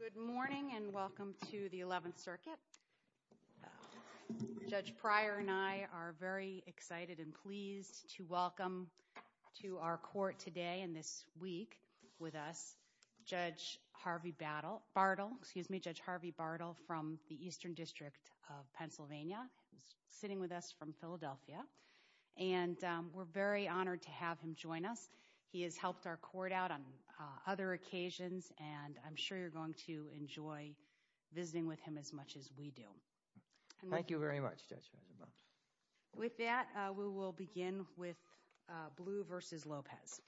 Good morning and welcome to the 11th Circuit. Judge Pryor and I are very excited and pleased to welcome to our court today and this week with us Judge Harvey Bartle from the Eastern District of Pennsylvania, sitting with us from Philadelphia, and we're very honored to have him join us. He has helped our court out on other occasions and I'm sure you're going to enjoy visiting with him as much as we do. Thank you very much, Judge. With that, we will begin with Blue v. Lopez.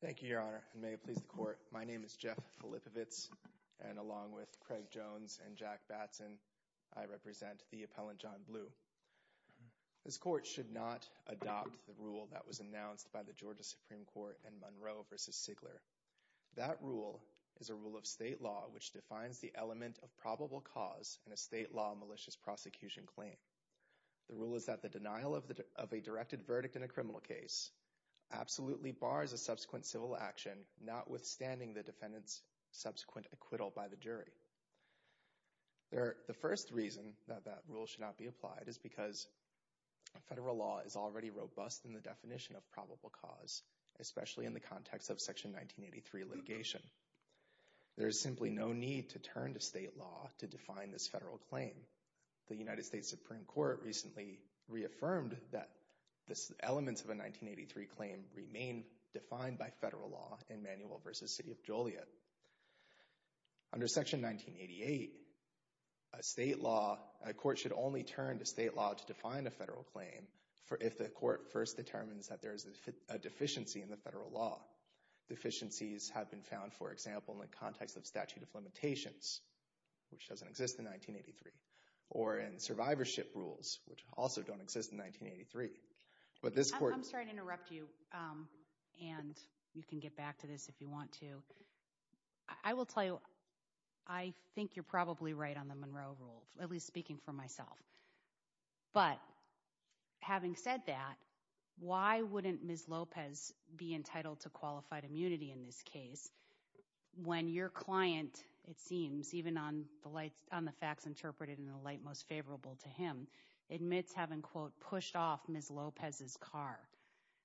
Thank you, Your Honor, and may it please the court. My name is Jeff Filipovits, and along with Craig Jones and Jack Batson, I represent the appellant John Blue. This court should not adopt the rule that was announced by the Georgia Supreme Court in Monroe v. Sigler. That rule is a rule of state law which defines the element of probable cause in a state law malicious prosecution claim. The rule is that the denial of a directed verdict in a criminal case absolutely bars a subsequent civil action, notwithstanding the defendant's subsequent acquittal by the jury. The first reason that that rule should not be applied is because federal law is already robust in the definition of probable cause, especially in the context of Section 1983 litigation. There is simply no need to turn to state law to define this federal claim. The United States Supreme Court recently reaffirmed that the elements of a 1983 claim remain defined by federal law in Manuel v. City of Joliet. Under Section 1988, a court should only turn to state law to define a federal claim if the court first determines that there is a deficiency in the federal law. Deficiencies have been found, for example, in the context of statute of limitations, which doesn't exist in 1983, or in survivorship rules, which also don't exist in 1983. I'm sorry to interrupt you, and you can get back to this if you want to. I will tell you, I think you're probably right on the Monroe Rule, at least speaking for myself. But having said that, why wouldn't Ms. Lopez be entitled to qualified immunity in this case when your client, it seems, even on the facts interpreted in the light most favorable to him, admits having, quote, pushed off Ms. Lopez's car?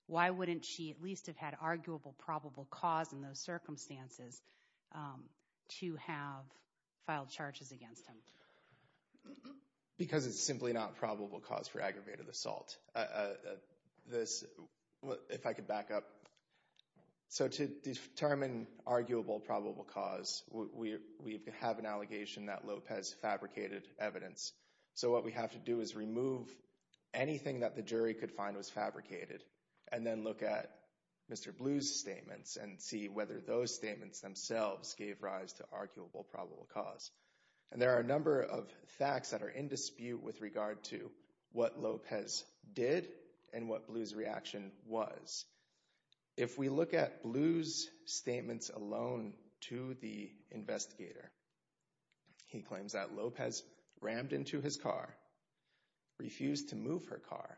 Why wouldn't she at least have had arguable probable cause in those circumstances to have filed charges against him? Because it's simply not probable cause for aggravated assault. If I could back up. So to determine arguable probable cause, we have an allegation that Lopez fabricated evidence. So what we have to do is remove anything that the jury could find was fabricated, and then look at Mr. Blue's statements and see whether those statements themselves gave rise to arguable probable cause. And there are a number of facts that are in dispute with regard to what Lopez did and what Blue's reaction was. If we look at Blue's statements alone to the investigator, he claims that Lopez rammed into his car, refused to move her car,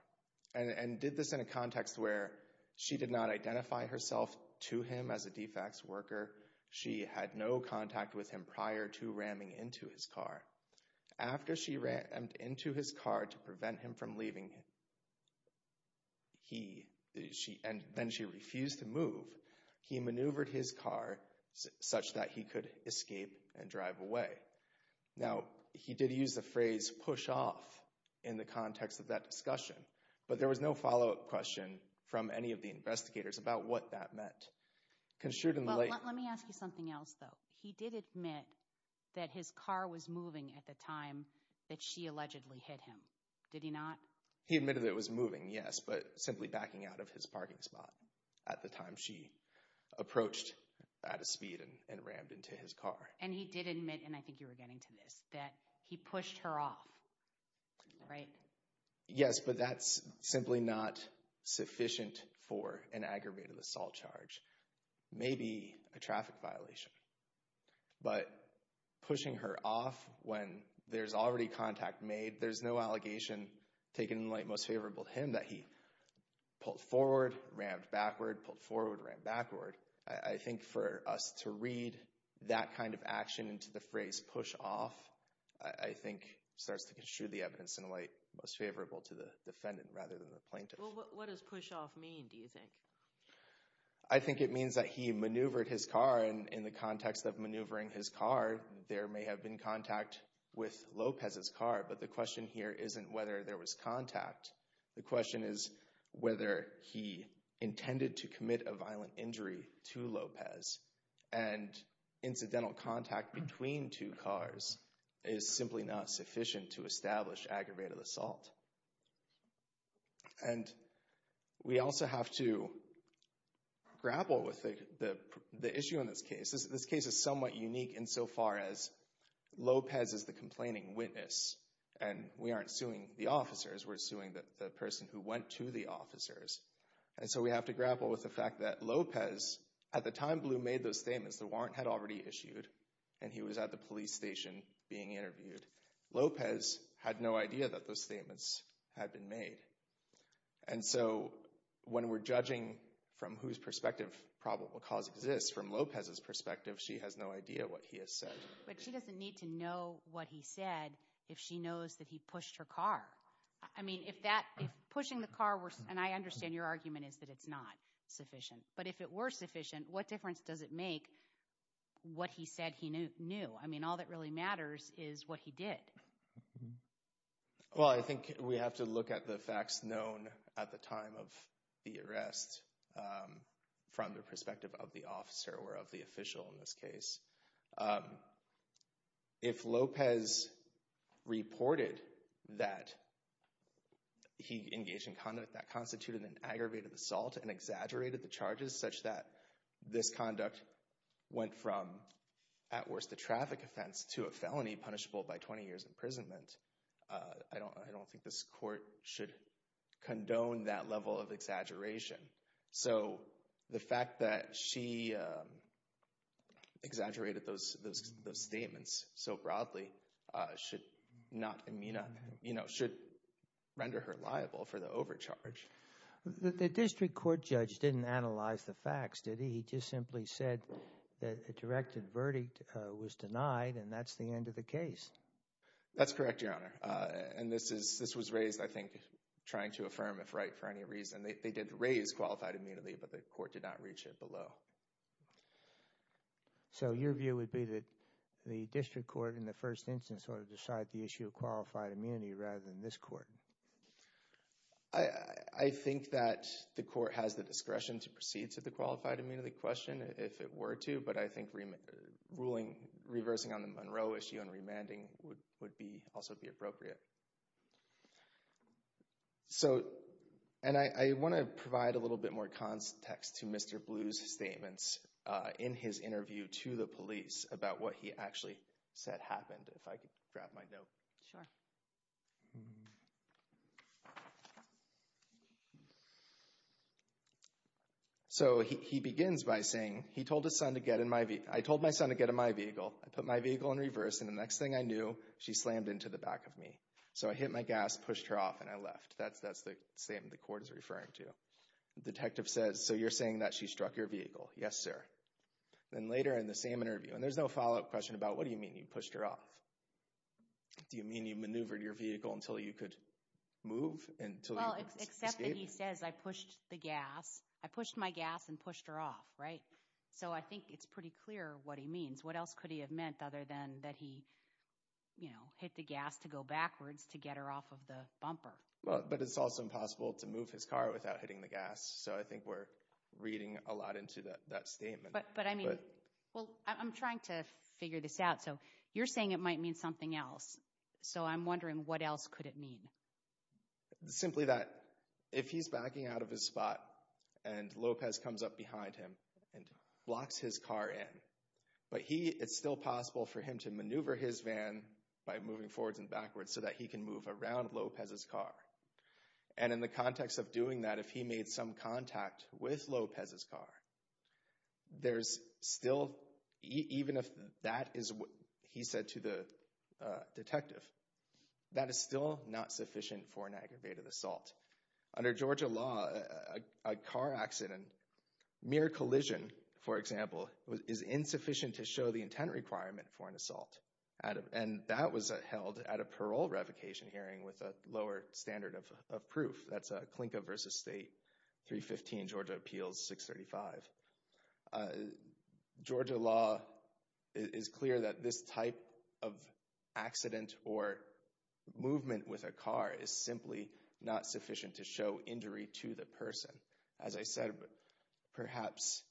and did this in a context where she did not identify herself to him as a defects worker. She had no contact with him prior to ramming into his car. After she rammed into his car to prevent him from leaving, and then she refused to move, he maneuvered his car such that he could escape and drive away. Now, he did use the phrase push off in the context of that discussion, but there was no follow-up question from any of the investigators about what that meant. Let me ask you something else, though. He did admit that his car was moving at the time that she allegedly hit him, did he not? He admitted it was moving, yes, but simply backing out of his parking spot at the time she approached at a speed and rammed into his car. And he did admit, and I think you were getting to this, that he pushed her off, right? Yes, but that's simply not sufficient for an aggravated assault charge. Maybe a traffic violation, but pushing her off when there's already contact made, there's no allegation taken in light most favorable to him that he pulled forward, rammed backward, pulled forward, rammed backward. I think for us to read that kind of action into the phrase push off, I think starts to construe the evidence in light most favorable to the defendant rather than the plaintiff. What does push off mean, do you think? I think it means that he maneuvered his car, and in the context of maneuvering his car, there may have been contact with Lopez's car, but the question here isn't whether there was contact. The question is whether he intended to commit a violent injury to Lopez, and incidental contact between two cars is simply not sufficient to establish aggravated assault. And we also have to grapple with the issue in this case. This case is somewhat unique insofar as Lopez is the complaining witness, and we aren't pursuing the person who went to the officers. And so we have to grapple with the fact that Lopez, at the time Blue made those statements, the warrant had already issued, and he was at the police station being interviewed. Lopez had no idea that those statements had been made. And so when we're judging from whose perspective probable cause exists, from Lopez's perspective, she has no idea what he has said. But she doesn't need to know what he said if she knows that he pushed her car. I mean, if that, if pushing the car were, and I understand your argument is that it's not sufficient, but if it were sufficient, what difference does it make what he said he knew? I mean, all that really matters is what he did. Well, I think we have to look at the facts known at the time of the arrest from the perspective of the officer or of the official in this case. If Lopez reported that he engaged in conduct that constituted an aggravated assault and exaggerated the charges such that this conduct went from, at worst, a traffic offense to a felony punishable by 20 years imprisonment, I don't think this court should condone that level of exaggeration. So the fact that she exaggerated those statements so broadly should not, you know, should render her liable for the overcharge. The district court judge didn't analyze the facts, did he? He just simply said that a directed verdict was denied and that's the end of the case. That's correct, Your Honor. And this was raised, I think, trying to affirm if right for any reason. They did raise qualified immunity, but the court did not reach it below. So your view would be that the district court in the first instance ought to decide the issue of qualified immunity rather than this court? I think that the court has the discretion to proceed to the qualified immunity question if it were to, but I think reversing on the Monroe issue and remanding would also be appropriate. So, and I want to provide a little bit more context to Mr. Blue's statements in his interview to the police about what he actually said happened, if I could grab my note. Sure. So he begins by saying, he told his son to get in my vehicle, I told my son to get in my vehicle, I put my vehicle in reverse and the next thing I knew, she slammed into the So I hit my gas, pushed her off, and I left. That's the same the court is referring to. The detective says, so you're saying that she struck your vehicle? Yes, sir. Then later in the same interview, and there's no follow-up question about what do you mean you pushed her off? Do you mean you maneuvered your vehicle until you could move? Well, except that he says I pushed the gas, I pushed my gas and pushed her off, right? So I think it's pretty clear what he means. What else could he have meant other than that he, you know, hit the gas to go backwards to get her off of the bumper? But it's also impossible to move his car without hitting the gas, so I think we're reading a lot into that statement. But I mean, well, I'm trying to figure this out, so you're saying it might mean something else, so I'm wondering what else could it mean? Simply that if he's backing out of his spot and Lopez comes up behind him and locks his car in, but he, it's still possible for him to maneuver his van by moving forwards and backwards so that he can move around Lopez's car. And in the context of doing that, if he made some contact with Lopez's car, there's still, even if that is what he said to the detective, that is still not sufficient for an aggravated assault. Under Georgia law, a car accident, mere collision, for example, is insufficient to show the intent requirement for an assault. And that was held at a parole revocation hearing with a lower standard of proof. That's a Klinka v. State, 315 Georgia Appeals, 635. Georgia law is clear that this type of accident or movement with a car is simply not sufficient to show injury to the person. As I said, perhaps,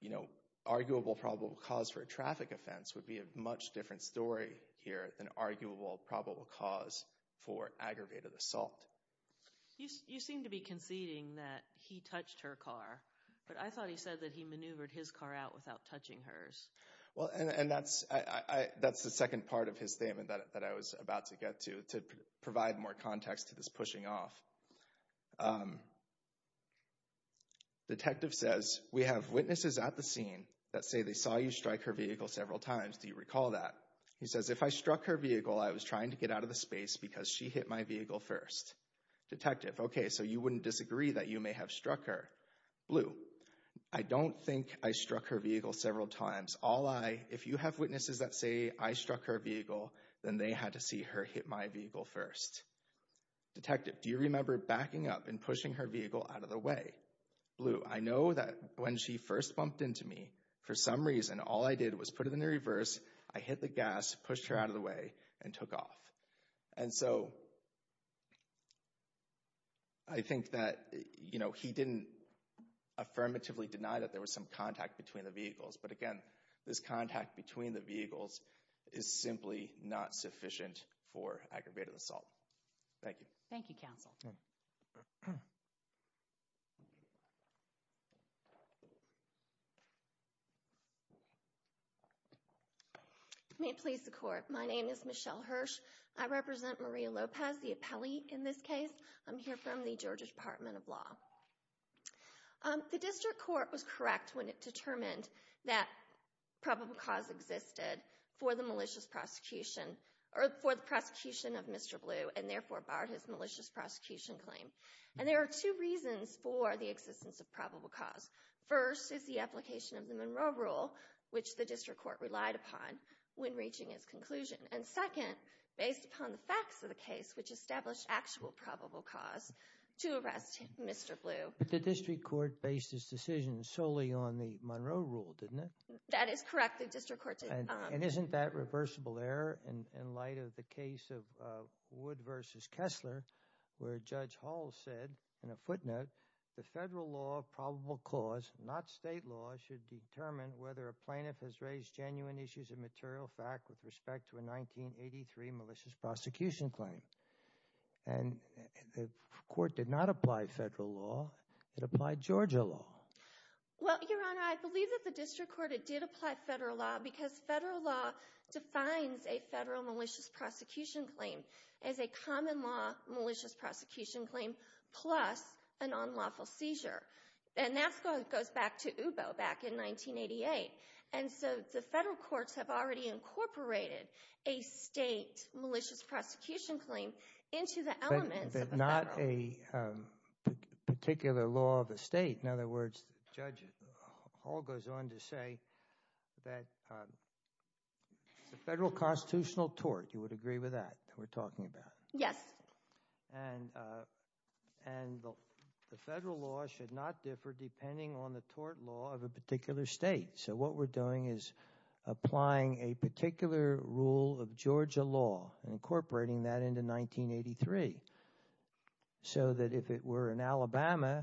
you know, arguable probable cause for a traffic offense would be a much different story here than arguable probable cause for aggravated assault. You seem to be conceding that he touched her car, but I thought he said that he maneuvered his car out without touching hers. Well, and that's, that's the second part of his statement that I was about to get to, to provide more context to this pushing off. Detective says, we have witnesses at the scene that say they saw you strike her vehicle several times. Do you recall that? He says, if I struck her vehicle, I was trying to get out of the space because she hit my vehicle first. Detective. Okay. So you wouldn't disagree that you may have struck her. Blue. I don't think I struck her vehicle several times. All I, if you have witnesses that say I struck her vehicle, then they had to see her hit my vehicle first. Detective. Do you remember backing up and pushing her vehicle out of the way? Blue. I know that when she first bumped into me, for some reason, all I did was put it in the reverse. I hit the gas, pushed her out of the way and took off. And so, I think that, you know, he didn't affirmatively deny that there was some contact between the vehicles. But again, this contact between the vehicles is simply not sufficient for aggravated assault. Thank you. Thank you, counsel. May it please the court. My name is Michelle Hirsch. I represent Maria Lopez, the appellee in this case. I'm here from the Georgia Department of Law. The district court was correct when it determined that probable cause existed for the malicious Mr. Blue and therefore barred his malicious prosecution claim. And there are two reasons for the existence of probable cause. First is the application of the Monroe Rule, which the district court relied upon when reaching its conclusion. And second, based upon the facts of the case, which established actual probable cause to arrest Mr. Blue. But the district court based its decision solely on the Monroe Rule, didn't it? That is correct. The district court did. And isn't that reversible error in light of the case of Wood v. Kessler, where Judge Hall said, in a footnote, the federal law of probable cause, not state law, should determine whether a plaintiff has raised genuine issues of material fact with respect to a 1983 malicious prosecution claim. And the court did not apply federal law. It applied Georgia law. Well, Your Honor, I believe that the district court, it did apply federal law because federal law defines a federal malicious prosecution claim as a common law malicious prosecution claim plus a non-lawful seizure. And that goes back to UBO back in 1988. And so the federal courts have already incorporated a state malicious prosecution claim into the elements of a federal law. But not a particular law of the state. In other words, Judge Hall goes on to say that the federal constitutional tort, you would agree with that, that we're talking about? Yes. And the federal law should not differ depending on the tort law of a particular state. So what we're doing is applying a particular rule of Georgia law and incorporating that into 1983. So that if it were in Alabama,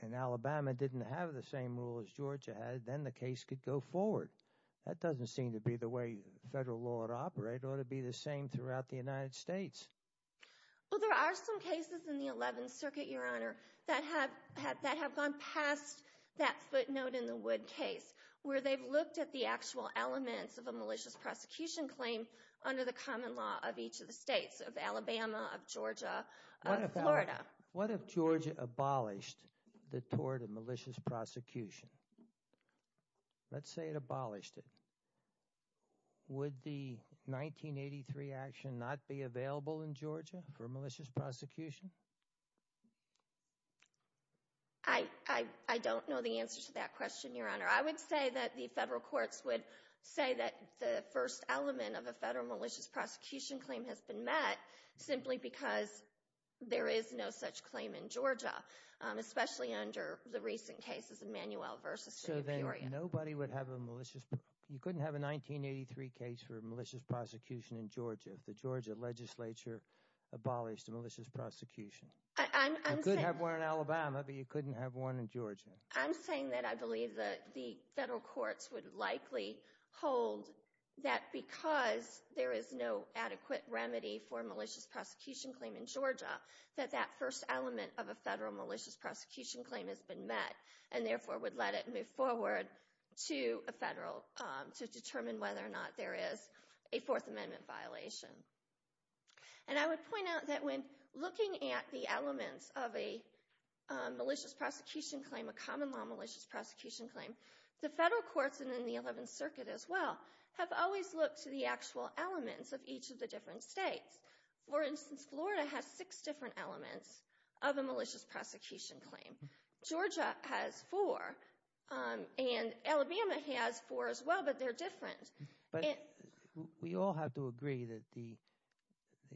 and Alabama didn't have the same rule as Georgia had, then the case could go forward. That doesn't seem to be the way federal law would operate, it ought to be the same throughout the United States. Well, there are some cases in the 11th Circuit, Your Honor, that have gone past that footnote in the wood case where they've looked at the actual elements of a malicious prosecution claim under the common law of each of the states, of Alabama, of Georgia, of Florida. What if Georgia abolished the tort of malicious prosecution? Let's say it abolished it. Would the 1983 action not be available in Georgia for malicious prosecution? I don't know the answer to that question, Your Honor. I would say that the federal courts would say that the first element of a federal malicious prosecution claim has been met simply because there is no such claim in Georgia, especially under the recent cases of Manuel v. Superior. So then nobody would have a malicious, you couldn't have a 1983 case for malicious prosecution in Georgia if the Georgia legislature abolished a malicious prosecution? I'm saying... You could have one in Alabama, but you couldn't have one in Georgia. I'm saying that I believe that the federal courts would likely hold that because there is no adequate remedy for a malicious prosecution claim in Georgia, that that first element of a federal malicious prosecution claim has been met and therefore would let it move forward to a federal to determine whether or not there is a Fourth Amendment violation. And I would point out that when looking at the elements of a malicious prosecution claim a common law malicious prosecution claim, the federal courts and in the Eleventh Circuit as well have always looked to the actual elements of each of the different states. For instance, Florida has six different elements of a malicious prosecution claim. Georgia has four, and Alabama has four as well, but they're different. We all have to agree that the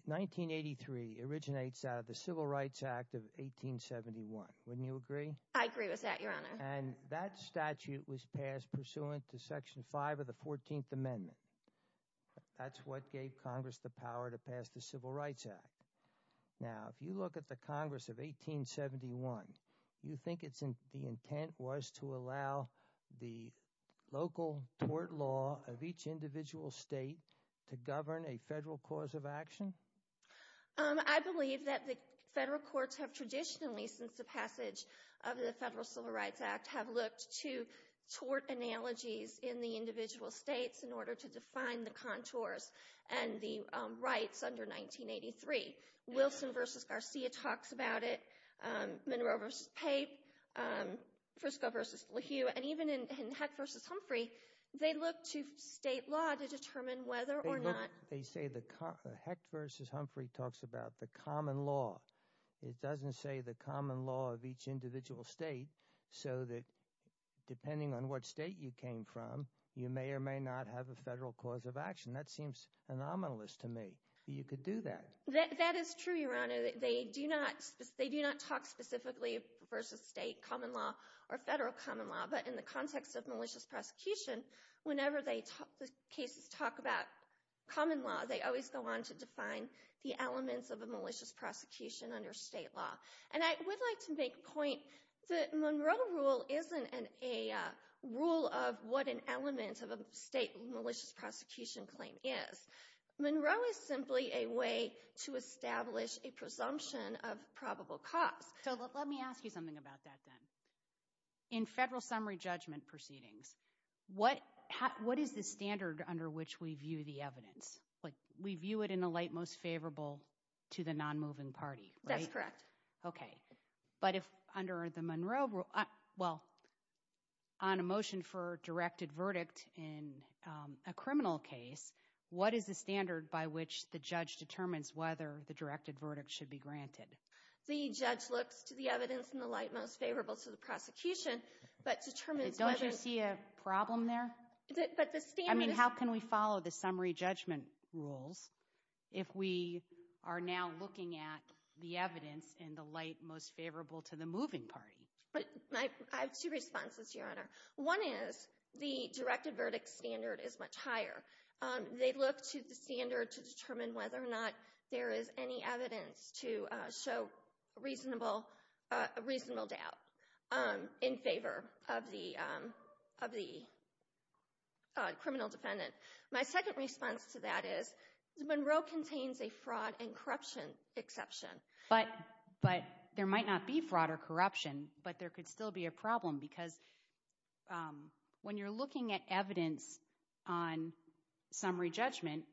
1983 originates out of the Civil Rights Act of 1871, wouldn't you agree? I agree with that, Your Honor. And that statute was passed pursuant to Section 5 of the Fourteenth Amendment. That's what gave Congress the power to pass the Civil Rights Act. Now, if you look at the Congress of 1871, you think the intent was to allow the local tort law of each individual state to govern a federal cause of action? I believe that the federal courts have traditionally, since the passage of the Federal Civil Rights Act, have looked to tort analogies in the individual states in order to define the contours and the rights under 1983. Wilson v. Garcia talks about it, Monroe v. Pape, Frisco v. LaHue, and even in Hecht v. Humphrey, they look to state law to determine whether or not They say the Hecht v. Humphrey talks about the common law. It doesn't say the common law of each individual state, so that depending on what state you came from, you may or may not have a federal cause of action. That seems anomalous to me. You could do that. That is true, Your Honor. They do not talk specifically versus state common law or federal common law, but in the common law, they always go on to define the elements of a malicious prosecution under state law. And I would like to make a point that Monroe rule isn't a rule of what an element of a state malicious prosecution claim is. Monroe is simply a way to establish a presumption of probable cause. So let me ask you something about that then. In federal summary judgment proceedings, what is the standard under which we view the evidence? We view it in the light most favorable to the non-moving party, right? That's correct. Okay. But if under the Monroe rule, well, on a motion for directed verdict in a criminal case, what is the standard by which the judge determines whether the directed verdict should be granted? The judge looks to the evidence in the light most favorable to the prosecution, but determines whether... Don't you see a problem there? But the standard is... How can we follow the summary judgment rules if we are now looking at the evidence in the light most favorable to the moving party? I have two responses, Your Honor. One is the directed verdict standard is much higher. They look to the standard to determine whether or not there is any evidence to show a reasonable doubt in favor of the criminal defendant. My second response to that is Monroe contains a fraud and corruption exception. But there might not be fraud or corruption, but there could still be a problem because when you're looking at evidence on summary judgment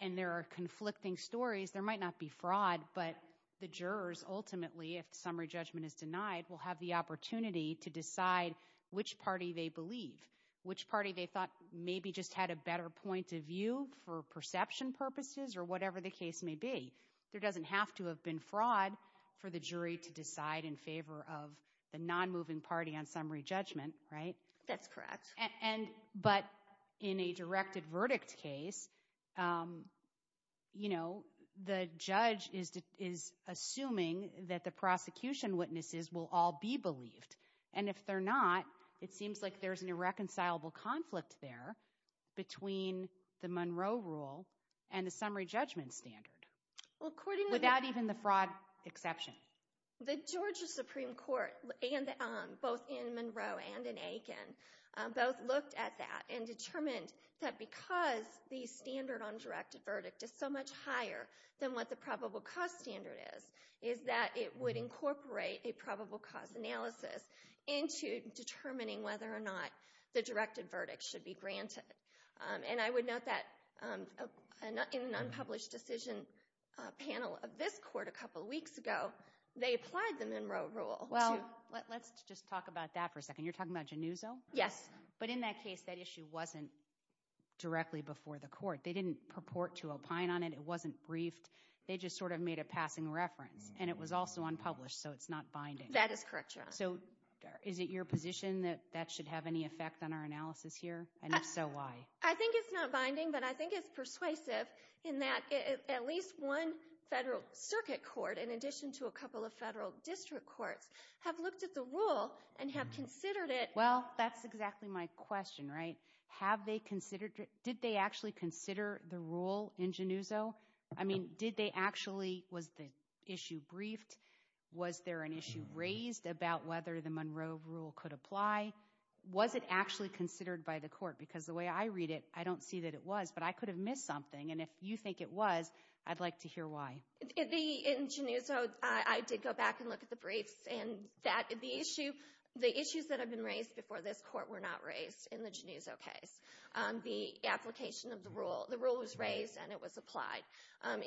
and there are conflicting stories, there might not be fraud, but the jurors ultimately, if the summary judgment is denied, will have the opportunity to decide which party they believe, which party they thought maybe just had a better point of view for perception purposes or whatever the case may be. There doesn't have to have been fraud for the jury to decide in favor of the non-moving party on summary judgment, right? That's correct. But in a directed verdict case, you know, the judge is assuming that the prosecution witnesses will all be believed. And if they're not, it seems like there's an irreconcilable conflict there between the Monroe rule and the summary judgment standard without even the fraud exception. The Georgia Supreme Court, both in Monroe and in Aiken, both looked at that and determined that because the standard on directed verdict is so much higher than what the probable cause standard is, is that it would incorporate a probable cause analysis into determining whether or not the directed verdict should be granted. And I would note that in an unpublished decision panel of this court a couple of weeks ago, they applied the Monroe rule to... Well, let's just talk about that for a second. You're talking about Genuzo? Yes. But in that case, that issue wasn't directly before the court. They didn't purport to opine on it. It wasn't briefed. They just sort of made a passing reference. And it was also unpublished, so it's not binding. That is correct, Your Honor. So is it your position that that should have any effect on our analysis here? And if so, why? I think it's not binding, but I think it's persuasive in that at least one federal circuit court, in addition to a couple of federal district courts, have looked at the rule and have considered it. Well, that's exactly my question, right? Have they considered it? Did they actually consider the rule in Genuzo? I mean, did they actually... Was the issue briefed? Was there an issue raised about whether the Monroe rule could apply? Was it actually considered by the court? Because the way I read it, I don't see that it was, but I could have missed something. And if you think it was, I'd like to hear why. In Genuzo, I did go back and look at the briefs, and the issues that have been raised before this court were not raised in the Genuzo case. The application of the rule, the rule was raised and it was applied.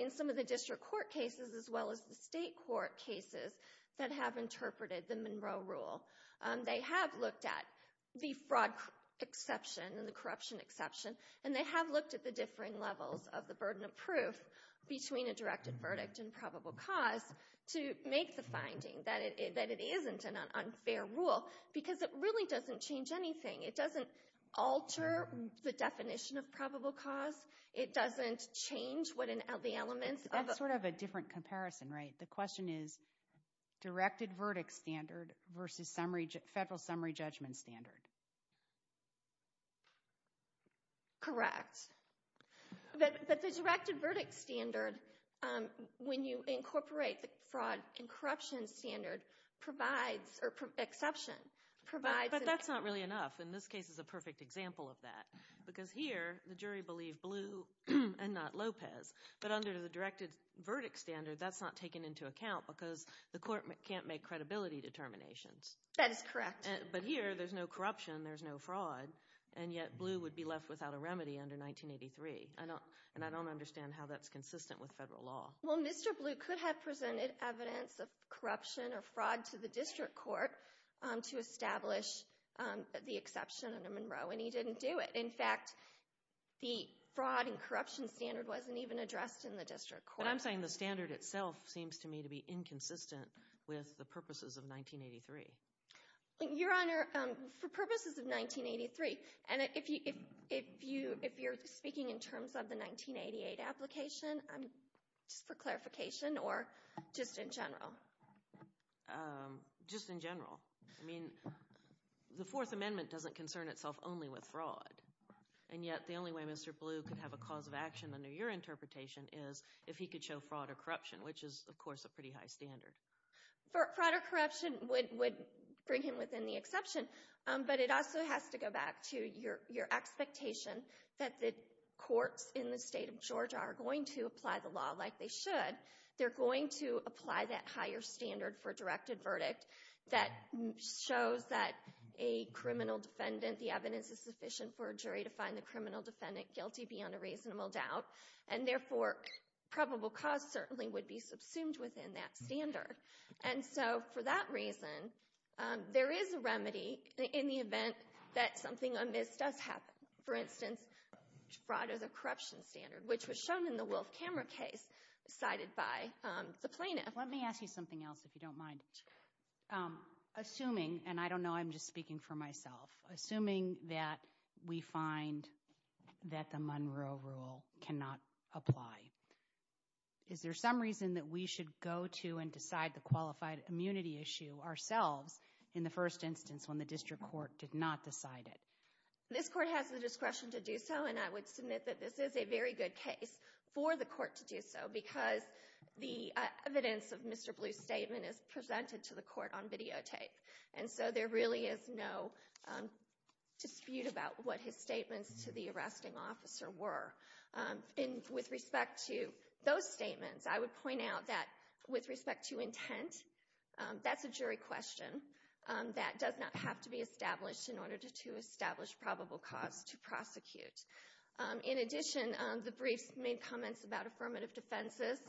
In some of the district court cases, as well as the state court cases that have interpreted the Monroe rule, they have looked at the fraud exception and the corruption exception, and they have looked at the differing levels of the burden of proof between a directed verdict and probable cause to make the finding that it isn't an unfair rule. Because it really doesn't change anything. It doesn't alter the definition of probable cause. It doesn't change what the elements of... That's sort of a different comparison, right? The question is, directed verdict standard versus federal summary judgment standard. Correct. But the directed verdict standard, when you incorporate the fraud and corruption standard, provides, or exception, provides... But that's not really enough. In this case, it's a perfect example of that. Because here, the jury believed Blue and not Lopez, but under the directed verdict standard, that's not taken into account because the court can't make credibility determinations. That is correct. But here, there's no corruption, there's no fraud, and yet Blue would be left without a remedy under 1983. And I don't understand how that's consistent with federal law. Well, Mr. Blue could have presented evidence of corruption or fraud to the district court to establish the exception under Monroe, and he didn't do it. In fact, the fraud and corruption standard wasn't even addressed in the district court. But I'm saying the standard itself seems to me to be inconsistent with the purposes of 1983. Your Honor, for purposes of 1983, and if you're speaking in terms of the 1988 application, just for clarification, or just in general? Just in general. I mean, the Fourth Amendment doesn't concern itself only with fraud. And yet, the only way Mr. Blue could have a cause of action under your interpretation is if he could show fraud or corruption, which is, of course, a pretty high standard. Fraud or corruption would bring him within the exception, but it also has to go back to your expectation that the courts in the state of Georgia are going to apply the law like they should. They're going to apply that higher standard for directed verdict that shows that a criminal defendant, the evidence is sufficient for a jury to find the criminal defendant guilty beyond a reasonable doubt. And therefore, probable cause certainly would be subsumed within that standard. And so, for that reason, there is a remedy in the event that something amiss does happen. For instance, fraud as a corruption standard, which was shown in the Wolf Camera case cited by the plaintiff. Let me ask you something else, if you don't mind. Assuming, and I don't know, I'm just speaking for myself, assuming that we find that the law does not apply, is there some reason that we should go to and decide the qualified immunity issue ourselves in the first instance when the district court did not decide it? This court has the discretion to do so, and I would submit that this is a very good case for the court to do so because the evidence of Mr. Blue's statement is presented to the court on videotape. And so, there really is no dispute about what his statements to the arresting officer were. And with respect to those statements, I would point out that with respect to intent, that's a jury question that does not have to be established in order to establish probable cause to prosecute. In addition, the briefs made comments about affirmative defenses,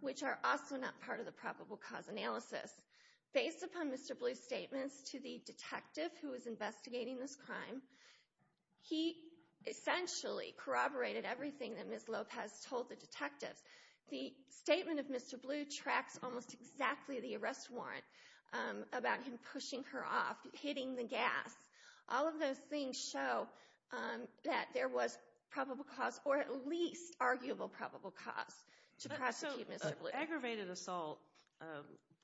which are also not part of the probable cause analysis. Based upon Mr. Blue's statements to the detective who was investigating this crime, he essentially corroborated everything that Ms. Lopez told the detectives. The statement of Mr. Blue tracks almost exactly the arrest warrant about him pushing her off, hitting the gas. All of those things show that there was probable cause, or at least arguable probable cause, to prosecute Mr. Blue. So, aggravated assault,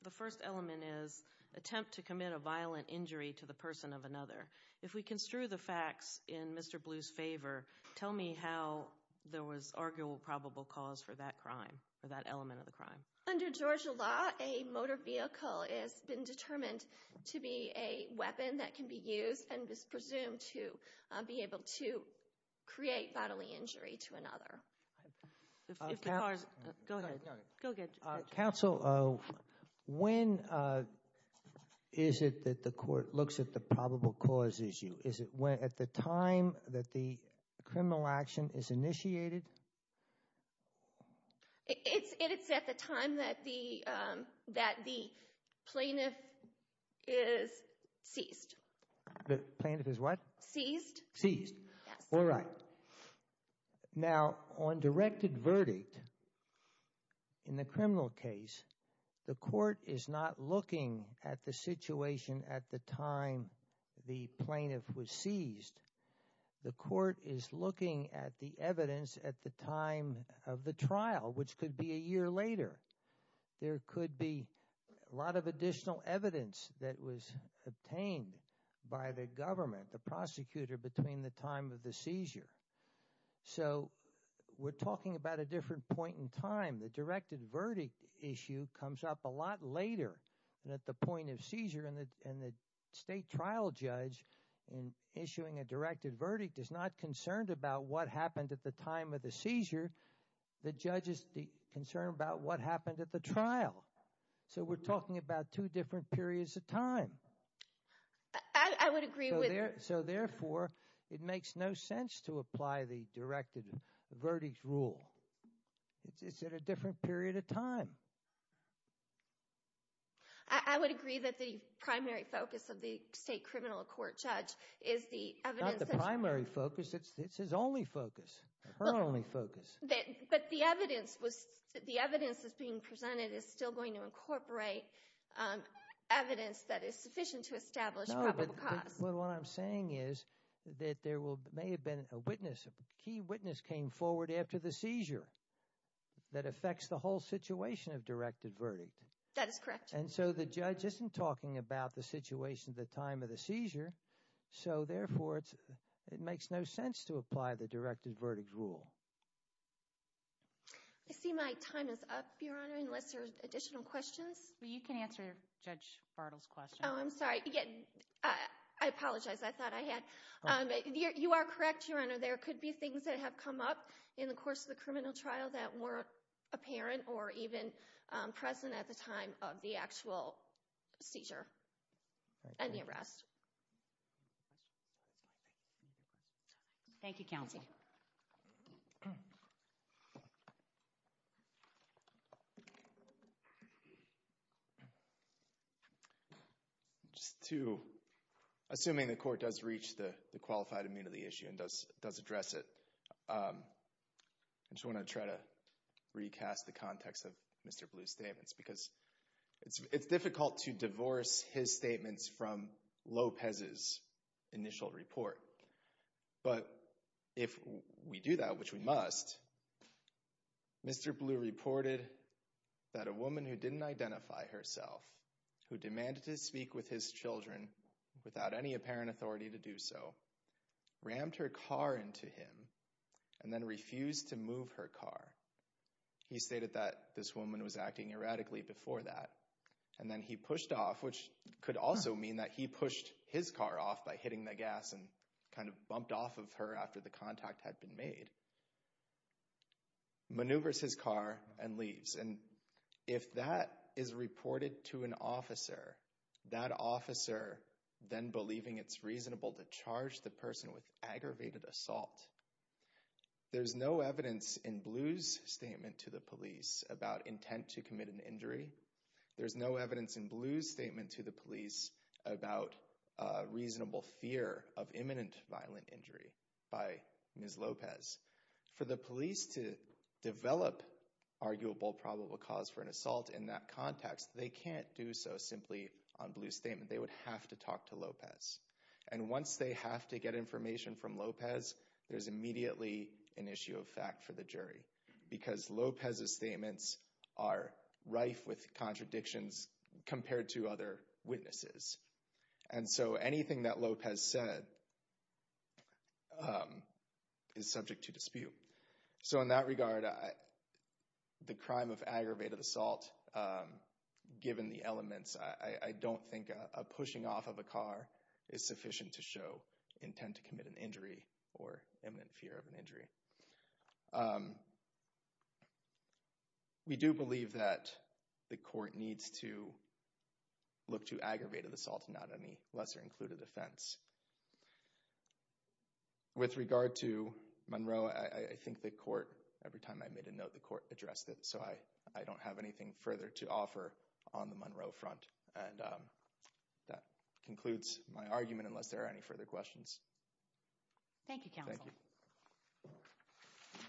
the first element is attempt to commit a violent injury to the person of another. If we construe the facts in Mr. Blue's favor, tell me how there was arguable probable cause for that crime, for that element of the crime. Under Georgia law, a motor vehicle has been determined to be a weapon that can be used and is presumed to be able to create bodily injury to another. If the car's... Go ahead. Go again. Counsel, when is it that the court looks at the probable cause issue? Is it at the time that the criminal action is initiated? It's at the time that the plaintiff is seized. The plaintiff is what? Seized. Seized. Yes. All right. All right. Now, on directed verdict, in the criminal case, the court is not looking at the situation at the time the plaintiff was seized. The court is looking at the evidence at the time of the trial, which could be a year later. There could be a lot of additional evidence that was obtained by the government, the prosecutor between the time of the seizure. So we're talking about a different point in time. The directed verdict issue comes up a lot later than at the point of seizure. And the state trial judge, in issuing a directed verdict, is not concerned about what happened at the time of the seizure. The judge is concerned about what happened at the trial. So we're talking about two different periods of time. I would agree with... So therefore, it makes no sense to apply the directed verdict rule. It's at a different period of time. I would agree that the primary focus of the state criminal court judge is the evidence... Not the primary focus, it's his only focus, her only focus. But the evidence that's being presented is still going to incorporate evidence that is sufficient to establish probable cause. But what I'm saying is that there may have been a witness, a key witness came forward after the seizure that affects the whole situation of directed verdict. That is correct. And so the judge isn't talking about the situation at the time of the seizure. So therefore, it makes no sense to apply the directed verdict rule. I see my time is up, Your Honor, unless there are additional questions. You can answer Judge Bartle's question. Oh, I'm sorry. I apologize. I thought I had... You are correct, Your Honor. There could be things that have come up in the course of the criminal trial that weren't apparent or even present at the time of the actual seizure and the arrest. Thank you, counsel. Thank you. Just to, assuming the court does reach the qualified amendment of the issue and does address it, I just want to try to recast the context of Mr. Blue's statements. Because it's difficult to divorce his statements from Lopez's initial report. But if we do that, which we must, Mr. Blue reported that a woman who didn't identify herself, who demanded to speak with his children without any apparent authority to do so, rammed her car into him and then refused to move her car. He stated that this woman was acting erratically before that. And then he pushed off, which could also mean that he pushed his car off by hitting the kind of bumped off of her after the contact had been made, maneuvers his car and leaves. And if that is reported to an officer, that officer then believing it's reasonable to charge the person with aggravated assault. There's no evidence in Blue's statement to the police about intent to commit an injury. There's no evidence in Blue's statement to the police about reasonable fear of imminent violent injury by Ms. Lopez. For the police to develop arguable probable cause for an assault in that context, they can't do so simply on Blue's statement. They would have to talk to Lopez. And once they have to get information from Lopez, there's immediately an issue of fact for the jury because Lopez's statements are rife with contradictions compared to other witnesses. And so anything that Lopez said is subject to dispute. So in that regard, the crime of aggravated assault, given the elements, I don't think a pushing off of a car is sufficient to show intent to commit an injury or imminent fear of an injury. We do believe that the court needs to look to aggravated assault and not any lesser included offense. With regard to Monroe, I think the court, every time I made a note, the court addressed it. So I don't have anything further to offer on the Monroe front. And that concludes my argument unless there are any further questions. Thank you, Counsel. Thank you.